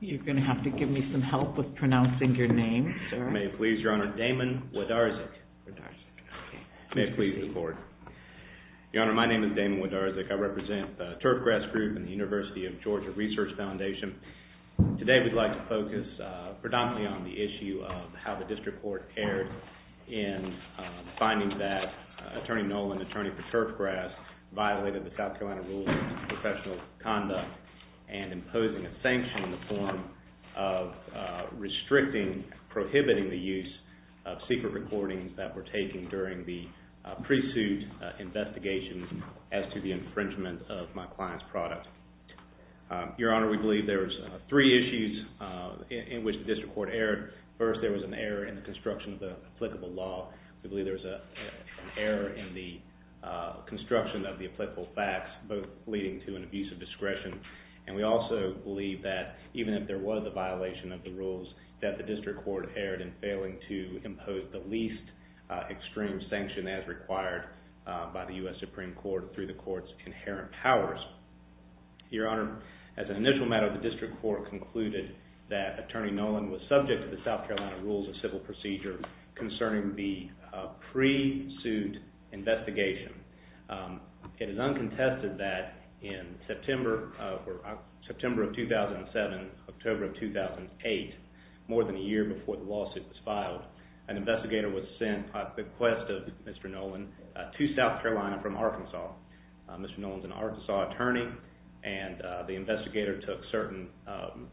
You're going to have to give me some help with pronouncing your name, sir. May it please Your Honor, Damon Wodarczyk. May it please the Court. Your Honor, my name is Damon Wodarczyk. I represent the Turfgrass Group and the University of Georgia Research Foundation. Today we'd like to focus predominantly on the issue of how the District Court erred in finding that Attorney Nolan, attorney for turfgrass, violated the South Carolina Rules of Professional Conduct and imposing a sanction in the form of restricting, prohibiting the use of secret recordings that were taken during the pre-suit investigation as to the infringement of my client's product. Your Honor, we believe there were three issues in which the District Court erred. First, there was an error in the construction of the applicable law. We believe there was an error in the construction of the applicable facts, both leading to an abuse of discretion. And we also believe that even if there was a violation of the rules, that the District Court erred in failing to impose the least extreme sanction as required by the U.S. Supreme Court through the Court's inherent powers. Your Honor, as an initial matter, the District Court concluded that Attorney Nolan was subject to the South Carolina Rules of Civil Procedure concerning the pre-suit investigation. It is uncontested that in September of 2007, October of 2008, more than a year before the lawsuit was filed, an investigator was sent by bequest of Mr. Nolan to South Carolina from Arkansas. Mr. Nolan is an Arkansas attorney, and the investigator took certain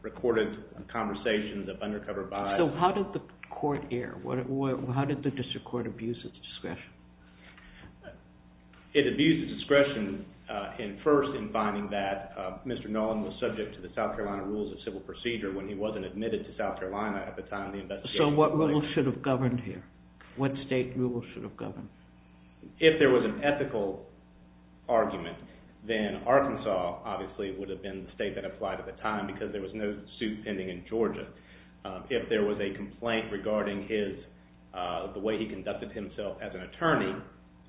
recorded conversations of undercover bias. So how did the court err? How did the District Court abuse its discretion? It abused its discretion in first in finding that Mr. Nolan was subject to the South Carolina Rules of Civil Procedure when he wasn't admitted to South Carolina at the time the investigation was filed. So what rule should have governed here? What state rule should have governed? If there was an ethical argument, then Arkansas obviously would have been the state that applied at the time because there was no suit pending in Georgia. If there was a complaint regarding the way he conducted himself as an attorney,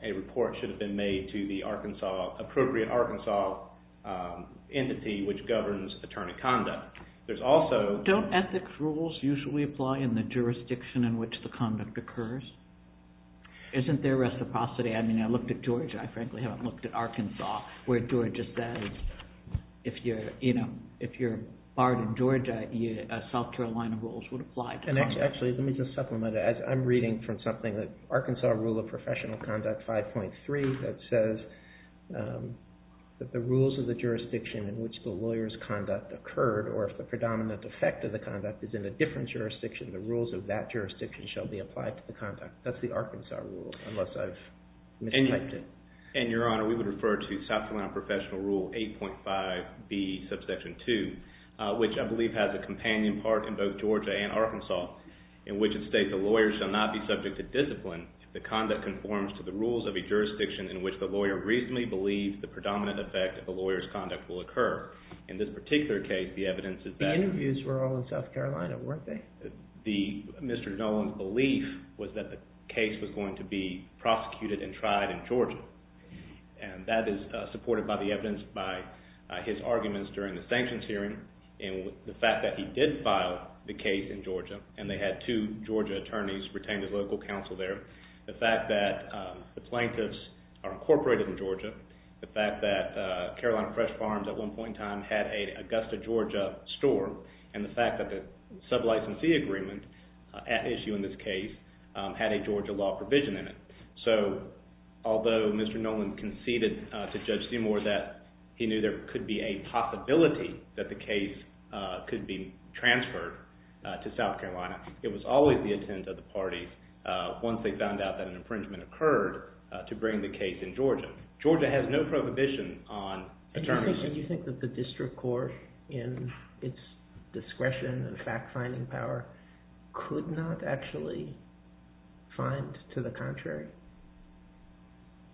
a report should have been made to the appropriate Arkansas entity which governs attorney conduct. Don't ethics rules usually apply in the jurisdiction in which the conduct occurs? Isn't there reciprocity? I mean, I looked at Georgia. I frankly haven't looked at Arkansas. If you're barred in Georgia, South Carolina rules would apply. Actually, let me just supplement. I'm reading from something, the Arkansas Rule of Professional Conduct 5.3 that says that the rules of the jurisdiction in which the lawyer's conduct occurred or if the predominant effect of the conduct is in a different jurisdiction, the rules of that jurisdiction shall be applied to the conduct. That's the Arkansas rule, unless I've mistyped it. Your Honor, we would refer to South Carolina Professional Rule 8.5B, Subsection 2, which I believe has a companion part in both Georgia and Arkansas in which it states the lawyer shall not be subject to discipline if the conduct conforms to the rules of a jurisdiction in which the lawyer reasonably believes the predominant effect of the lawyer's conduct will occur. In this particular case, the evidence is that – The interviews were all in South Carolina, weren't they? Mr. Nolan's belief was that the case was going to be prosecuted and tried in Georgia, and that is supported by the evidence by his arguments during the sanctions hearing and the fact that he did file the case in Georgia, and they had two Georgia attorneys retain his local counsel there, the fact that the plaintiffs are incorporated in Georgia, the fact that Carolina Fresh Farms at one point in time had a Augusta, Georgia store, and the fact that the sub-licensee agreement at issue in this case had a Georgia law provision in it. So although Mr. Nolan conceded to Judge Seymour that he knew there could be a possibility that the case could be transferred to South Carolina, it was always the intent of the parties once they found out that an infringement occurred to bring the case in Georgia. Georgia has no prohibition on attorneys. So you think that the district court in its discretion and fact-finding power could not actually find to the contrary?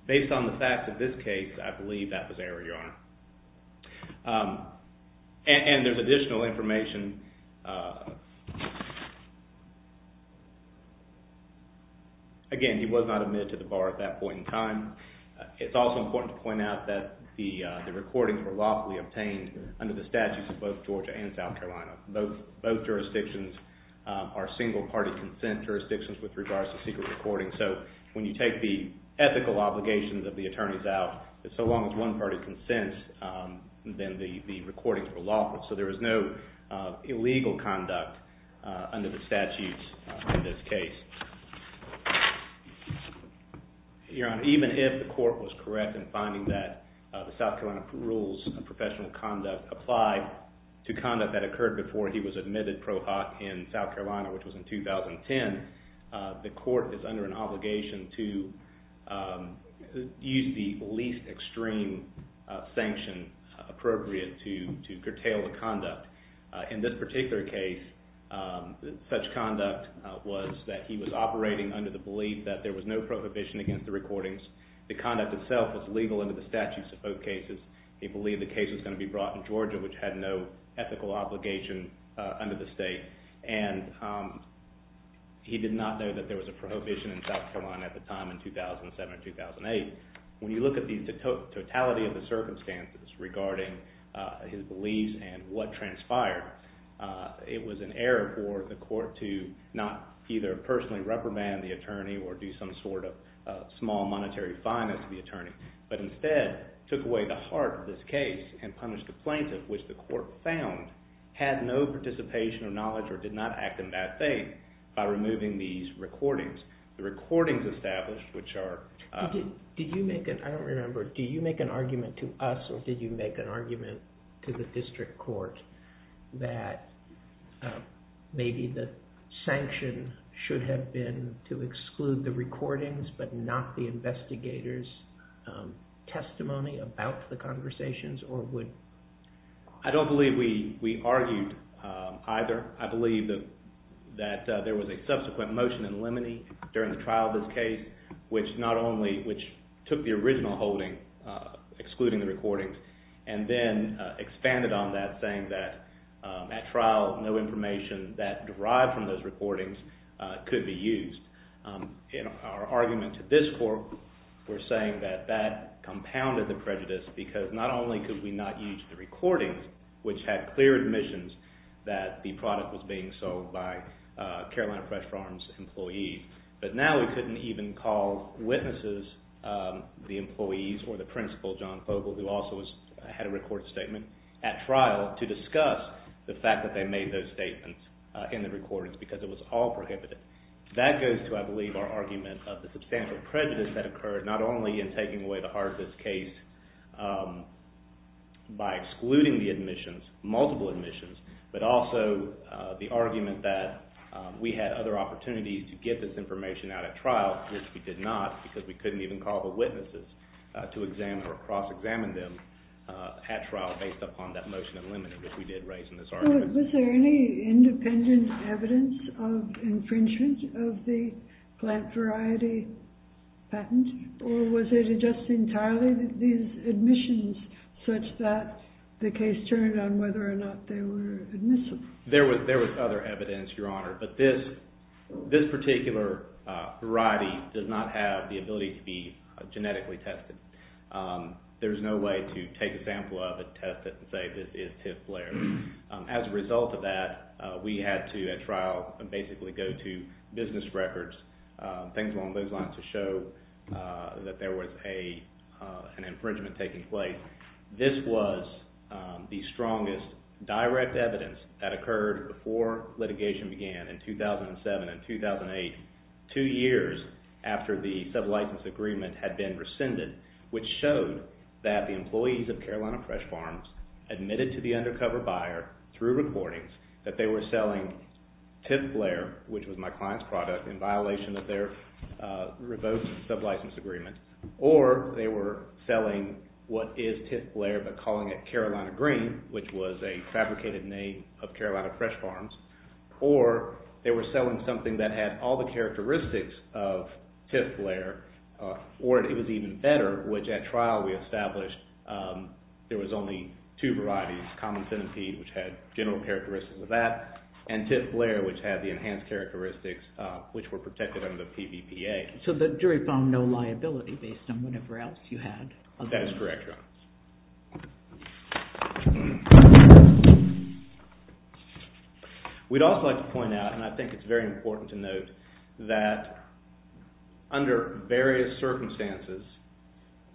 Based on the facts of this case, I believe that was error, Your Honor. And there's additional information. Again, he was not admitted to the bar at that point in time. It's also important to point out that the recordings were lawfully obtained under the statutes of both Georgia and South Carolina. Both jurisdictions are single-party consent jurisdictions with regards to secret recordings. So when you take the ethical obligations of the attorneys out, so long as one party consents, then the recordings were lawful. So there was no illegal conduct under the statutes in this case. Your Honor, even if the court was correct in finding that the South Carolina Rules of Professional Conduct apply to conduct that occurred before he was admitted pro hoc in South Carolina, which was in 2010, the court is under an obligation to use the least extreme sanction appropriate to curtail the conduct. In this particular case, such conduct was that he was operating under the belief that there was no prohibition against the recordings. The conduct itself was legal under the statutes of both cases. He believed the case was going to be brought in Georgia, which had no ethical obligation under the state. And he did not know that there was a prohibition in South Carolina at the time in 2007 and 2008. When you look at the totality of the circumstances regarding his beliefs and what transpired, it was an error for the court to not either personally reprimand the attorney or do some sort of small monetary fineness to the attorney, but instead took away the heart of this case and punished the plaintiff, which the court found had no participation or knowledge or did not act in that faith, by removing these recordings. The recordings established, which are... I don't remember. Do you make an argument to us or did you make an argument to the district court that maybe the sanction should have been to exclude the recordings but not the investigator's testimony about the conversations or would... I don't believe we argued either. I believe that there was a subsequent motion in Lemony during the trial of this case, which took the original holding, excluding the recordings, and then expanded on that, saying that at trial, no information that derived from those recordings could be used. In our argument to this court, we're saying that that compounded the prejudice because not only could we not use the recordings, which had clear admissions that the product was being sold by Carolina Fresh Farms employees, but now we couldn't even call witnesses, the employees or the principal, John Fogle, who also had a recorded statement, at trial to discuss the fact that they made those statements in the recordings because it was all prohibited. That goes to, I believe, our argument of the substantial prejudice that occurred not only in taking away the heart of this case by excluding the admissions, multiple admissions, but also the argument that we had other opportunities to get this information out at trial, which we did not because we couldn't even call the witnesses to examine or cross-examine them at trial based upon that motion in Lemony, which we did raise in this argument. Was there any independent evidence of infringement of the plant variety patent? Or was it just entirely these admissions, such that the case turned on whether or not they were admissible? There was other evidence, Your Honor, but this particular variety does not have the ability to be genetically tested. There's no way to take a sample of it, test it, and say this is TIFF flare. As a result of that, we had to, at trial, basically go to business records, things along those lines to show that there was an infringement taking place This was the strongest direct evidence that occurred before litigation began in 2007 and 2008, two years after the sub-license agreement had been rescinded, which showed that the employees of Carolina Fresh Farms admitted to the undercover buyer through recordings that they were selling TIFF flare, which was my client's product, in violation of their revoked sub-license agreement, or they were selling what is TIFF flare, but calling it Carolina Green, which was a fabricated name of Carolina Fresh Farms, or they were selling something that had all the characteristics of TIFF flare, or it was even better, which at trial we established there was only two varieties, common centipede, which had general characteristics of that, and TIFF flare, which had the enhanced characteristics, which were protected under the PVPA. Okay, so the jury found no liability based on whatever else you had. That is correct, Your Honor. We'd also like to point out, and I think it's very important to note, that under various circumstances,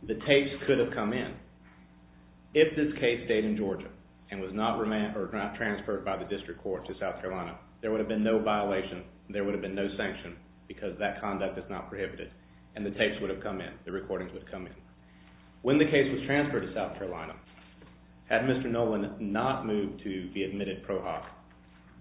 the tapes could have come in. If this case stayed in Georgia and was not transferred by the district court to South Carolina, there would have been no violation, there would have been no sanction, because that conduct is not prohibited, and the tapes would have come in, the recordings would come in. When the case was transferred to South Carolina, had Mr. Nolan not moved to be admitted pro hoc,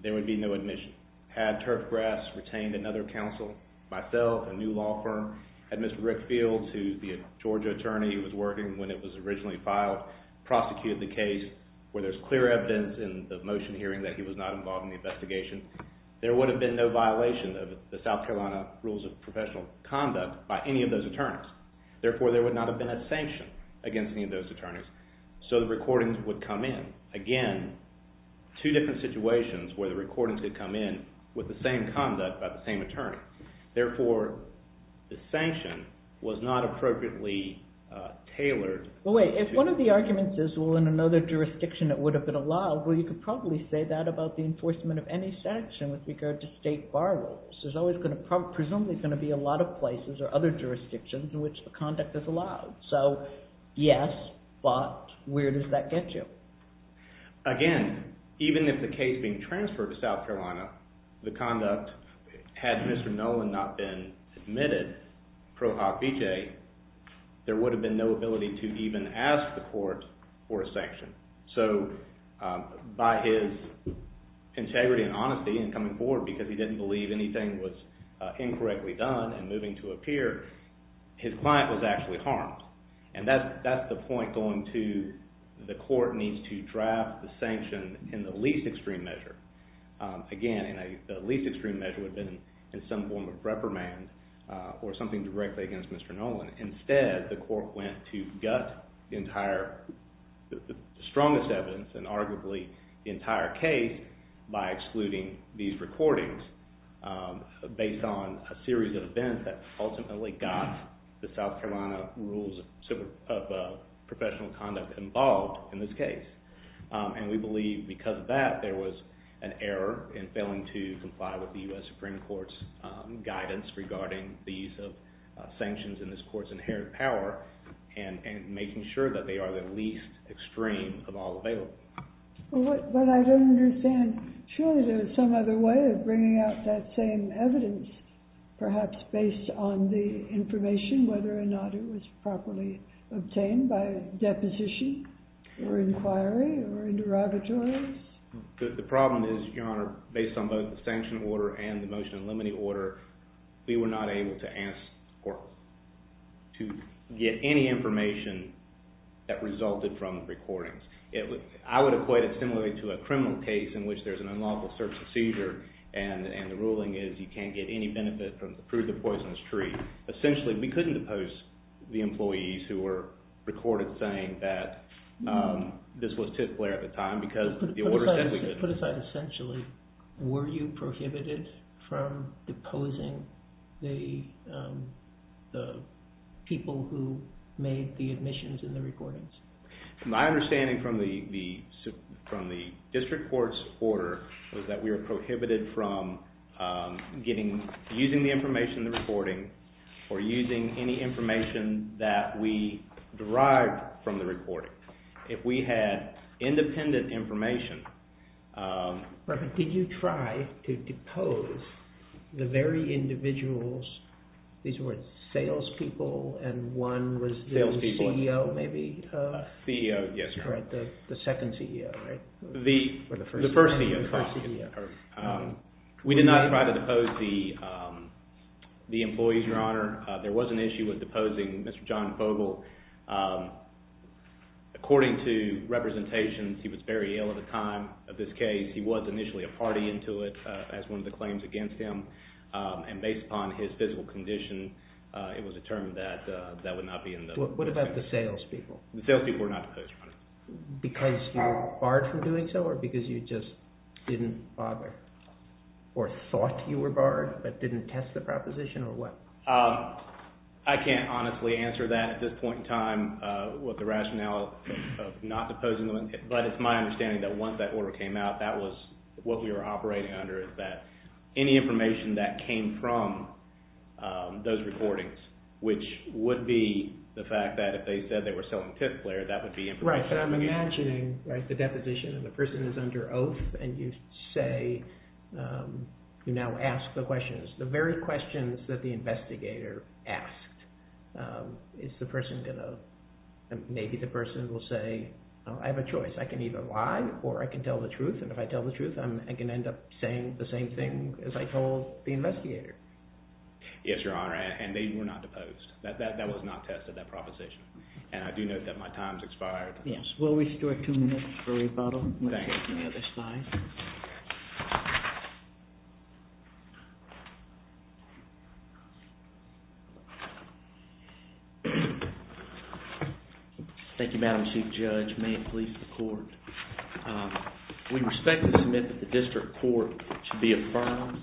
there would be no admission. Had Turf Grass retained another counsel, myself, a new law firm, had Mr. Rickfield, who the Georgia attorney was working when it was originally filed, prosecuted the case where there's clear evidence in the motion hearing that he was not involved in the investigation, there would have been no violation of the South Carolina Rules of Professional Conduct by any of those attorneys. Therefore, there would not have been a sanction against any of those attorneys. So the recordings would come in. Again, two different situations where the recordings would come in with the same conduct by the same attorney. Therefore, the sanction was not appropriately tailored. Wait, if one of the arguments is, well, in another jurisdiction it would have been allowed, well, you could probably say that about the enforcement of any sanction with regard to state bar rules. There's always going to be a lot of places or other jurisdictions in which the conduct is allowed. So yes, but where does that get you? Again, even if the case being transferred to South Carolina, the conduct had Mr. Nolan not been admitted pro hoc v. j., there would have been no ability to even ask the court for a sanction. So by his integrity and honesty in coming forward because he didn't believe anything was incorrectly done and moving to a peer, his client was actually harmed. And that's the point going to the court needs to draft the sanction in the least extreme measure. Again, the least extreme measure would have been in some form of reprimand or something directly against Mr. Nolan. Instead, the court went to gut the strongest evidence and arguably the entire case by excluding these recordings based on a series of events that ultimately got the South Carolina rules of professional conduct involved in this case. And we believe because of that there was an error in failing to comply with the U.S. Supreme Court's guidance regarding the use of sanctions in this court's inherent power and making sure that they are the least extreme of all available. But I don't understand. Surely there is some other way of bringing out that same evidence perhaps based on the information, whether or not it was properly obtained by deposition or inquiry or in derivatories? The problem is, Your Honor, based on both the sanction order and the motion in limine order, we were not able to get any information that resulted from recordings. I would equate it similarly to a criminal case in which there's an unlawful search and seizure and the ruling is you can't get any benefit from the proof of the poisonous tree. Essentially, we couldn't depose the employees who were recorded saying that this was tip flare at the time because the order said we could. Put aside essentially, were you prohibited from deposing the people who made the admissions and the recordings? My understanding from the district court's order was that we were prohibited from using the information in the recording or using any information that we derived from the recording. If we had independent information. Did you try to depose the very individuals, these were sales people and one was the CEO maybe? The CEO, yes. The second CEO, right? The first CEO. We did not try to depose the employees, Your Honor. There was an issue with deposing Mr. John Vogel. According to representations, he was very ill at the time of this case. He was initially a party into it as one of the claims against him and based upon his physical condition, it was determined that that would not be in the record. What about the sales people? The sales people were not deposed, Your Honor. Because you were barred from doing so or because you just didn't bother or thought you were barred but didn't test the proposition or what? I can't honestly answer that at this point in time with the rationale of not deposing them, but it's my understanding that once that order came out, that was what we were operating under, is that any information that came from those recordings, which would be the fact that if they said they were selling tick players, that would be information. Right, but I'm imagining, right, the deposition and the person is under oath and you say, you now ask the questions. The very questions that the investigator asked, is the person going to, maybe the person will say, I have a choice, I can either lie or I can tell the truth, and if I tell the truth, I can end up saying the same thing as I told the investigator. Yes, Your Honor, and they were not deposed. That was not tested, that proposition. And I do note that my time has expired. Yes, we'll restore two minutes for rebuttal. Thank you, Madam Chief Judge. May it please the Court. We respectfully submit that the district court should be affirmed.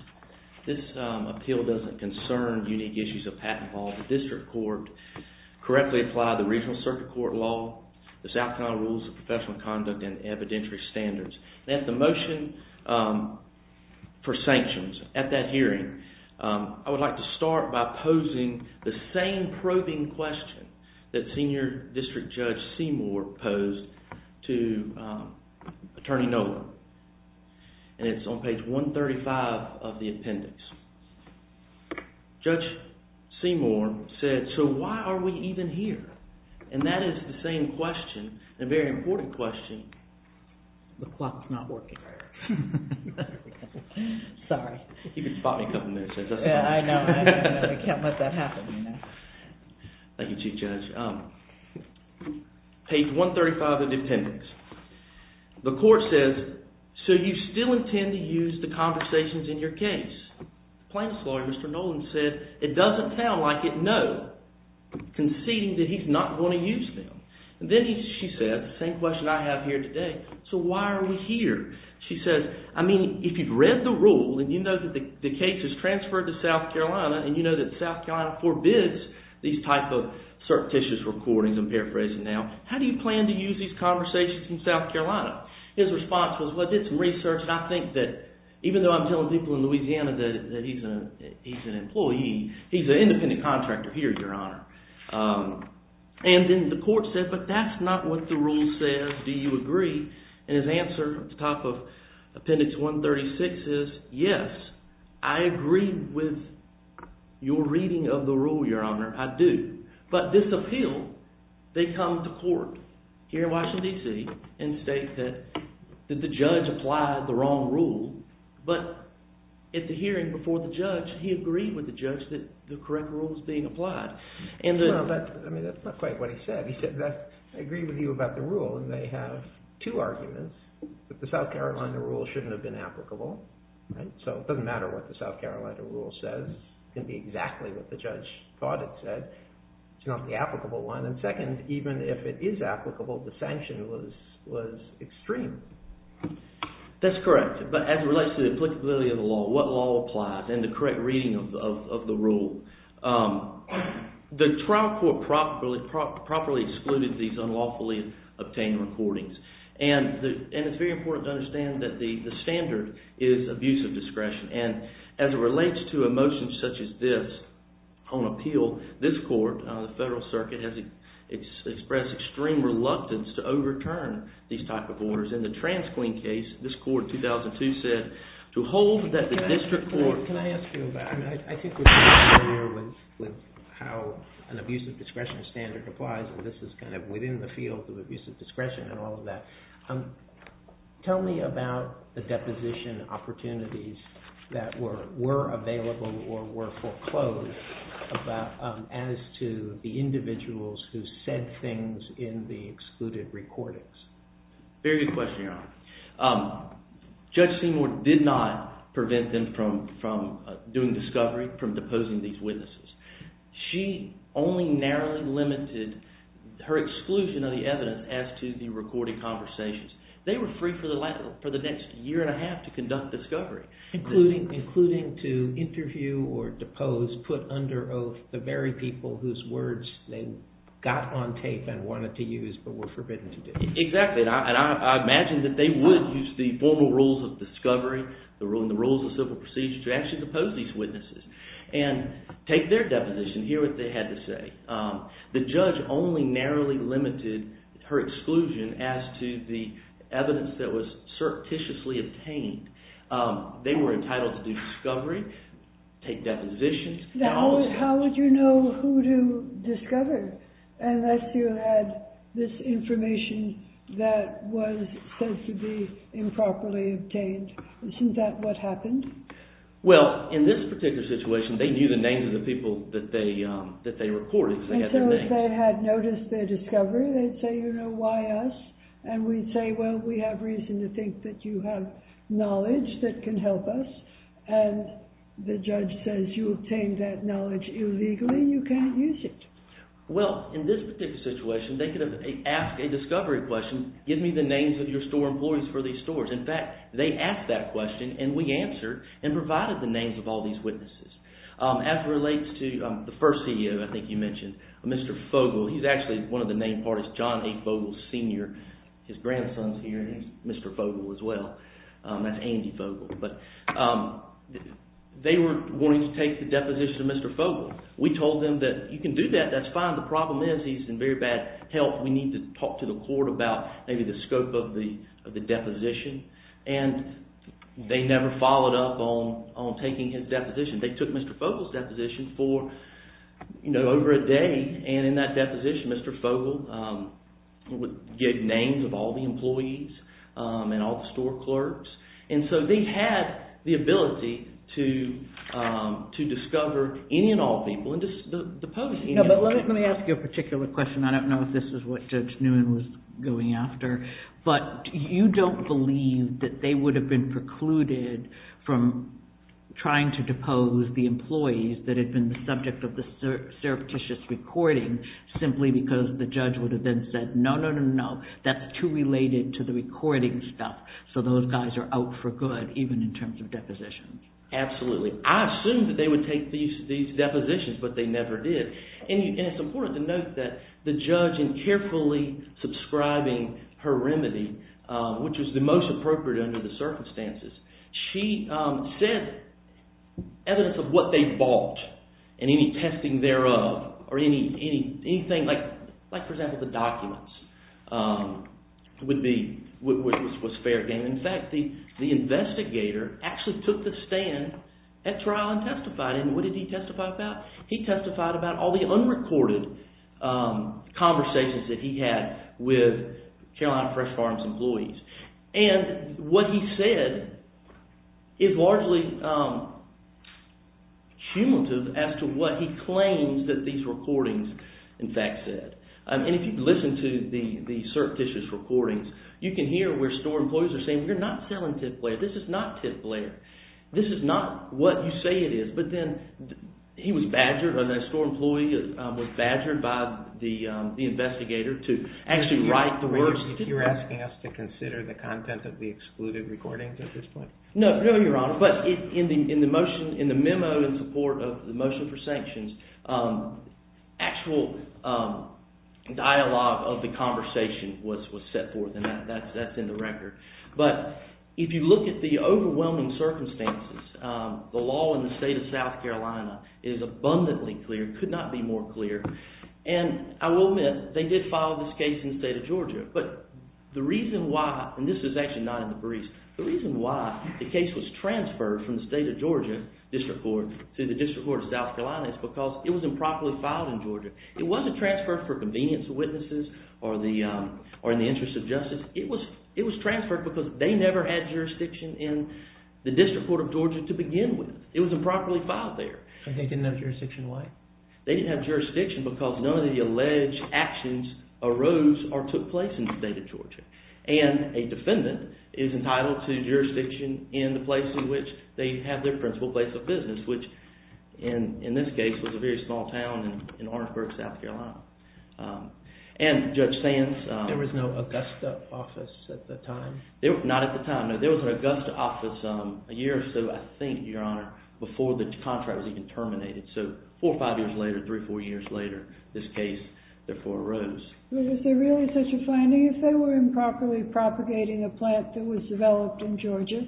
This appeal doesn't concern unique issues of patent law. The district court correctly applied the regional circuit court law, the South Carolina rules of professional conduct, and evidentiary standards. At the motion for sanctions, at that hearing, I would like to start by posing the same probing question that Senior District Judge Seymour posed to Attorney Noland. And it's on page 135 of the appendix. Judge Seymour said, so why are we even here? And that is the same question, a very important question. The clock's not working. Sorry. You can spot me a couple minutes later. I know. I can't let that happen. Thank you, Chief Judge. Page 135 of the appendix. The court says, so you still intend to use the conversations in your case. Plaintiff's lawyer, Mr. Noland, said, it doesn't sound like it, no, conceding that he's not going to use them. Then she said, the same question I have here today, so why are we here? She said, I mean, if you've read the rule and you know that the case is transferred to South Carolina and you know that South Carolina forbids these type of surreptitious recordings, I'm paraphrasing now, how do you plan to use these conversations in South Carolina? His response was, well, I did some research, and I think that even though I'm telling people in Louisiana that he's an employee, he's an independent contractor here, Your Honor. And then the court said, but that's not what the rule says. Do you agree? And his answer at the top of appendix 136 is, yes, I agree with your reading of the rule, Your Honor, I do. But this appeal, they come to court here in Washington, D.C., and state that the judge applied the wrong rule, but at the hearing before the judge, he agreed with the judge that the correct rule was being applied. That's not quite what he said. He said, I agree with you about the rule, and they have two arguments, that the South Carolina rule shouldn't have been applicable. So it doesn't matter what the South Carolina rule says. It can be exactly what the judge thought it said. It's not the applicable one. And second, even if it is applicable, the sanction was extreme. That's correct. But as it relates to the applicability of the law, what law applies and the correct reading of the rule, the trial court properly excluded these unlawfully obtained recordings. And it's very important to understand that the standard is abuse of discretion. And as it relates to a motion such as this on appeal, this court, the Federal Circuit, has expressed extreme reluctance to overturn these type of orders. In the Transqueen case, this court in 2002 said, to hold that the district court… Can I ask you about… I think we're familiar with how an abuse of discretion standard applies, and this is kind of within the field of abuse of discretion and all of that. Tell me about the deposition opportunities that were available or were foreclosed as to the individuals who said things in the excluded recordings. Very good question, Your Honor. Judge Seymour did not prevent them from doing discovery, from deposing these witnesses. She only narrowly limited her exclusion of the evidence as to the recorded conversations. They were free for the next year and a half to conduct discovery. Including to interview or depose, put under oath, the very people whose words they got on tape and wanted to use but were forbidden to do. Exactly, and I imagine that they would use the formal rules of discovery and the rules of civil procedure to actually depose these witnesses and take their deposition, hear what they had to say. The judge only narrowly limited her exclusion as to the evidence that was surreptitiously obtained. They were entitled to do discovery, take depositions. Now, how would you know who to discover unless you had this information that was said to be improperly obtained? Isn't that what happened? Well, in this particular situation, they knew the names of the people that they recorded because they had their names. And so if they had noticed their discovery, they'd say, you know, why us? And we'd say, well, we have reason to think that you have knowledge that can help us. And the judge says, you obtained that knowledge illegally, you can't use it. Well, in this particular situation, they could have asked a discovery question, give me the names of your store employees for these stores. In fact, they asked that question and we answered and provided the names of all these witnesses. As it relates to the first CEO, I think you mentioned, Mr. Fogle. He's actually one of the main parties, John A. Fogle Sr. His grandson's here and he's Mr. Fogle as well. That's Andy Fogle. But they were going to take the deposition of Mr. Fogle. We told them that you can do that, that's fine. The problem is he's in very bad health. We need to talk to the court about maybe the scope of the deposition. And they never followed up on taking his deposition. They took Mr. Fogle's deposition for, you know, over a day. And in that deposition, Mr. Fogle gave names of all the employees and all the store clerks. And so they had the ability to discover any and all people and to depose any and all people. Let me ask you a particular question. I don't know if this is what Judge Newman was going after, but you don't believe that they would have been precluded from trying to depose the employees that had been the subject of the surreptitious recording simply because the judge would have then said, no, no, no, no, that's too related to the recording stuff. So those guys are out for good even in terms of depositions. Absolutely. I assumed that they would take these depositions, but they never did. And it's important to note that the judge, in carefully subscribing her remedy, which was the most appropriate under the circumstances, she said evidence of what they bought and any testing thereof or anything like, for example, the documents was fair game. In fact, the investigator actually took the stand at trial and testified. And what did he testify about? He testified about all the unrecorded conversations that he had with Carolina Fresh Farms employees. And what he said is largely cumulative as to what he claims that these recordings, in fact, said. And if you listen to the surreptitious recordings, you can hear where store employees are saying, we're not selling tip layer, this is not tip layer. This is not what you say it is. But then he was badgered, or the store employee was badgered by the investigator to actually write the words. You're asking us to consider the content of the excluded recordings at this point? No, Your Honor. But in the memo in support of the motion for sanctions, actual dialogue of the conversation was set forth, and that's in the record. But if you look at the overwhelming circumstances, the law in the state of South Carolina is abundantly clear, could not be more clear. And I will admit, they did file this case in the state of Georgia. But the reason why, and this is actually not in the briefs, the reason why the case was transferred from the state of Georgia district court to the district court of South Carolina is because it was improperly filed in Georgia. It wasn't transferred for convenience of witnesses or in the interest of justice. It was transferred because they never had jurisdiction in the district court of Georgia to begin with. It was improperly filed there. And they didn't have jurisdiction why? They didn't have jurisdiction because none of the alleged actions arose or took place in the state of Georgia. And a defendant is entitled to jurisdiction in the place in which they have their principal place of business, which in this case was a very small town in Orangeburg, South Carolina. And Judge Sands… There was no Augusta office at the time? Not at the time. No, there was an Augusta office a year or so, I think, Your Honor, before the contract was even terminated. So four or five years later, three or four years later, this case therefore arose. But is there really such a finding? If they were improperly propagating a plant that was developed in Georgia,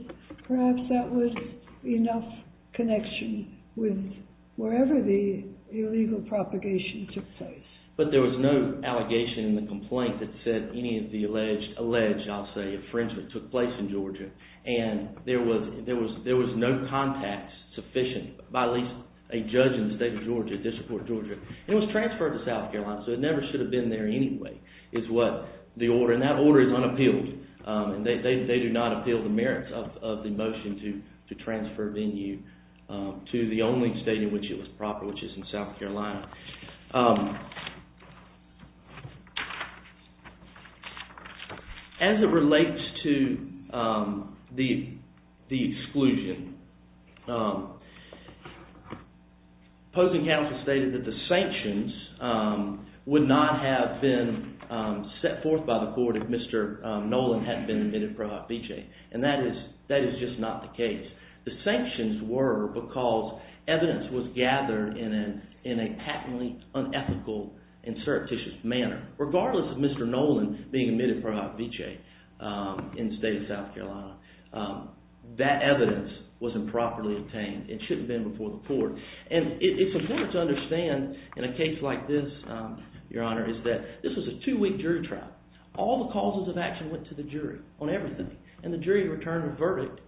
perhaps that would be enough connection with wherever the illegal propagation took place. But there was no allegation in the complaint that said any of the alleged, I'll say, infringement took place in Georgia. And there was no contact sufficient by at least a judge in the state of Georgia to support Georgia. It was transferred to South Carolina, so it never should have been there anyway, is what the order. And that order is unappealed. They do not appeal the merits of the motion to transfer venue to the only state in which it was proper, which is in South Carolina. As it relates to the exclusion, opposing counsel stated that the sanctions would not have been set forth by the court if Mr. Nolan hadn't been admitted pro hoc vice. And that is just not the case. The sanctions were because evidence was gathered in a patently unethical and surreptitious manner. Regardless of Mr. Nolan being admitted pro hoc vice in the state of South Carolina, that evidence was improperly obtained. It shouldn't have been before the court. And it's important to understand in a case like this, Your Honor, is that this was a two-week jury trial. All the causes of action went to the jury on everything. And the jury returned a verdict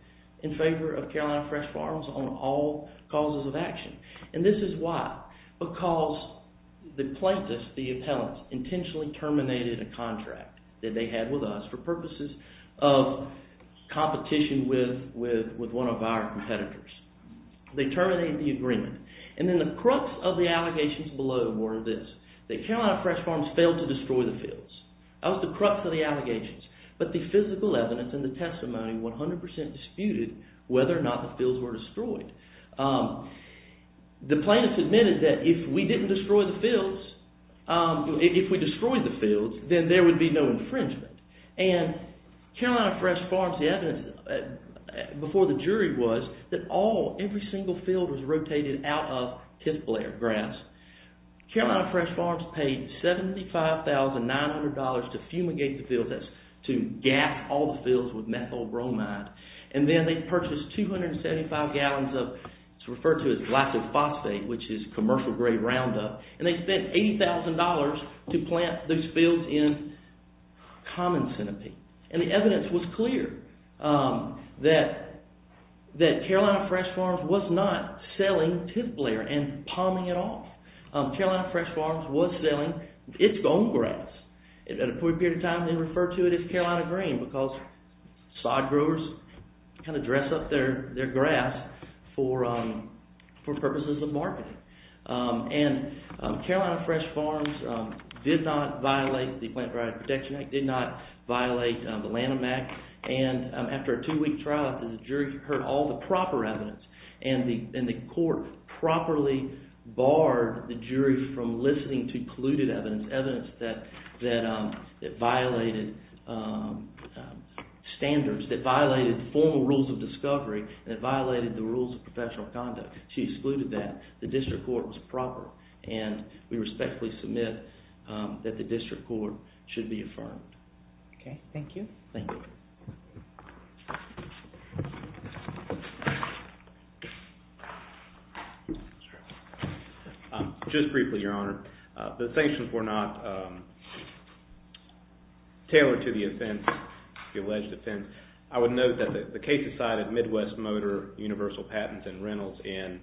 in favor of Carolina Fresh Farms on all causes of action. And this is why. Because the plaintiffs, the appellants, intentionally terminated a contract that they had with us for purposes of competition with one of our competitors. They terminated the agreement. And then the crux of the allegations below were this. That Carolina Fresh Farms failed to destroy the fields. That was the crux of the allegations. But the physical evidence and the testimony 100% disputed whether or not the fields were destroyed. The plaintiffs admitted that if we didn't destroy the fields, if we destroyed the fields, then there would be no infringement. And Carolina Fresh Farms, the evidence before the jury was that all, every single field was rotated out of tenth-layer grass. Carolina Fresh Farms paid $75,900 to fumigate the fields. That's to gas all the fields with methyl bromide. And then they purchased 275 gallons of what's referred to as glycophosphate, which is commercial-grade Roundup. And they spent $80,000 to plant those fields in common centipede. And the evidence was clear that Carolina Fresh Farms was not selling tenth-layer and palming it off. Carolina Fresh Farms was selling its own grass. At a point in time, they referred to it as Carolina Green because sod growers kind of dress up their grass for purposes of marketing. And Carolina Fresh Farms did not violate the Plant Drought Protection Act, did not violate the Lanham Act. And after a two-week trial, the jury heard all the proper evidence. And the court properly barred the jury from listening to polluted evidence, evidence that violated standards, that violated formal rules of discovery, that violated the rules of professional conduct. She excluded that. The district court was proper. And we respectfully submit that the district court should be affirmed. Okay, thank you. Thank you. Just briefly, Your Honor, the sanctions were not tailored to the offense, the alleged offense. I would note that the case decided Midwest Motor Universal Patents and Rentals in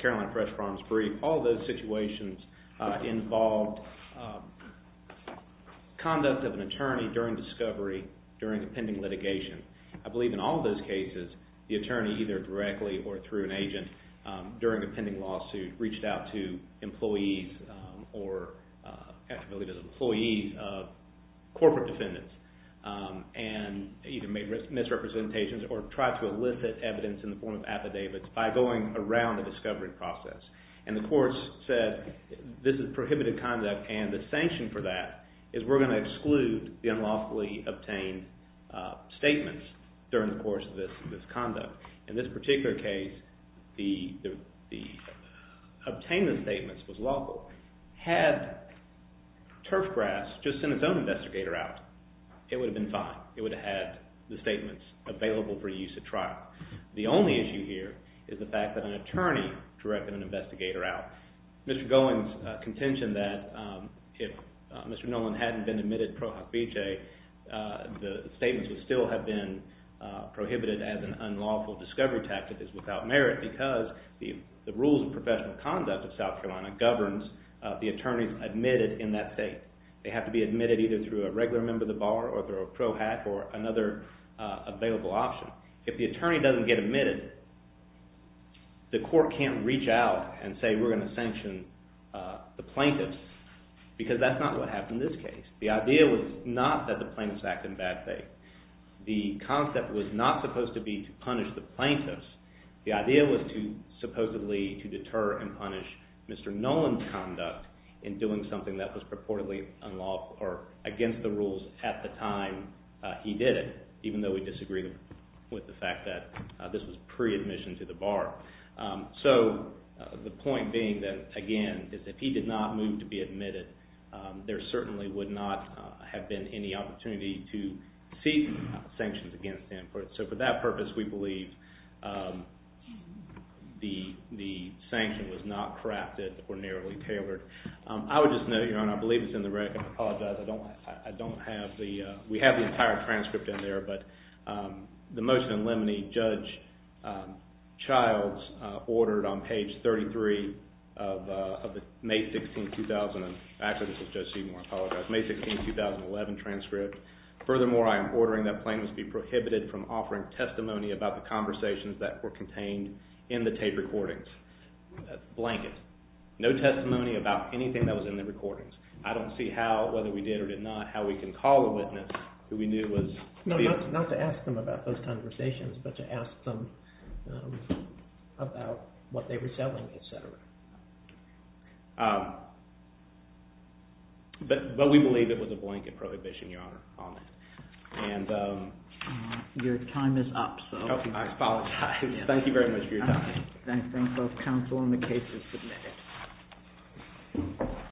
Carolina Fresh Farms' brief, all those situations involved conduct of an attorney during discovery, during a pending litigation. I believe in all those cases, the attorney either directly or through an agent during a pending lawsuit reached out to employees or actually believe it was employees, corporate defendants, and either made misrepresentations or tried to elicit evidence in the form of affidavits by going around the discovery process. And the courts said this is prohibited conduct and the sanction for that is we're going to exclude the unlawfully obtained statements during the course of this conduct. In this particular case, the obtained statements was lawful. Had Turfgrass just sent its own investigator out, it would have been fine. It would have had the statements available for use at trial. The only issue here is the fact that an attorney directed an investigator out. Mr. Gowen's contention that if Mr. Noland hadn't been admitted pro hoc vija, the statements would still have been prohibited as an unlawful discovery tactic is without merit because the rules of professional conduct of South Carolina governs the attorneys admitted in that state. They have to be admitted either through a regular member of the bar or through a pro hoc or another available option. If the attorney doesn't get admitted, the court can't reach out and say we're going to sanction the plaintiffs because that's not what happened in this case. The idea was not that the plaintiffs act in bad faith. The concept was not supposed to be to punish the plaintiffs. The idea was supposedly to deter and punish Mr. Noland's conduct in doing something that was purportedly unlawful or against the rules at the time he did it, even though we disagree with the fact that this was pre-admission to the bar. So the point being that, again, if he did not move to be admitted, there certainly would not have been any opportunity to seek sanctions against him. So for that purpose, we believe the sanction was not crafted or narrowly tailored. I would just note, Your Honor, I believe it's in the record. I apologize. I don't have the – we have the entire transcript in there, but the motion in limine Judge Childs ordered on page 33 of the May 16, 2000 – actually, this is Judge Seymour, I apologize – May 16, 2011 transcript. Furthermore, I am ordering that plaintiffs be prohibited from offering testimony about the conversations that were contained in the tape recordings. Blanket. No testimony about anything that was in the recordings. I don't see how, whether we did or did not, how we can call a witness who we knew was – No, not to ask them about those conversations, but to ask them about what they were selling, etc. But we believe it was a blanket prohibition, Your Honor, on it. Your time is up. I apologize. Thank you very much for your time. I thank both counsel and the case is submitted.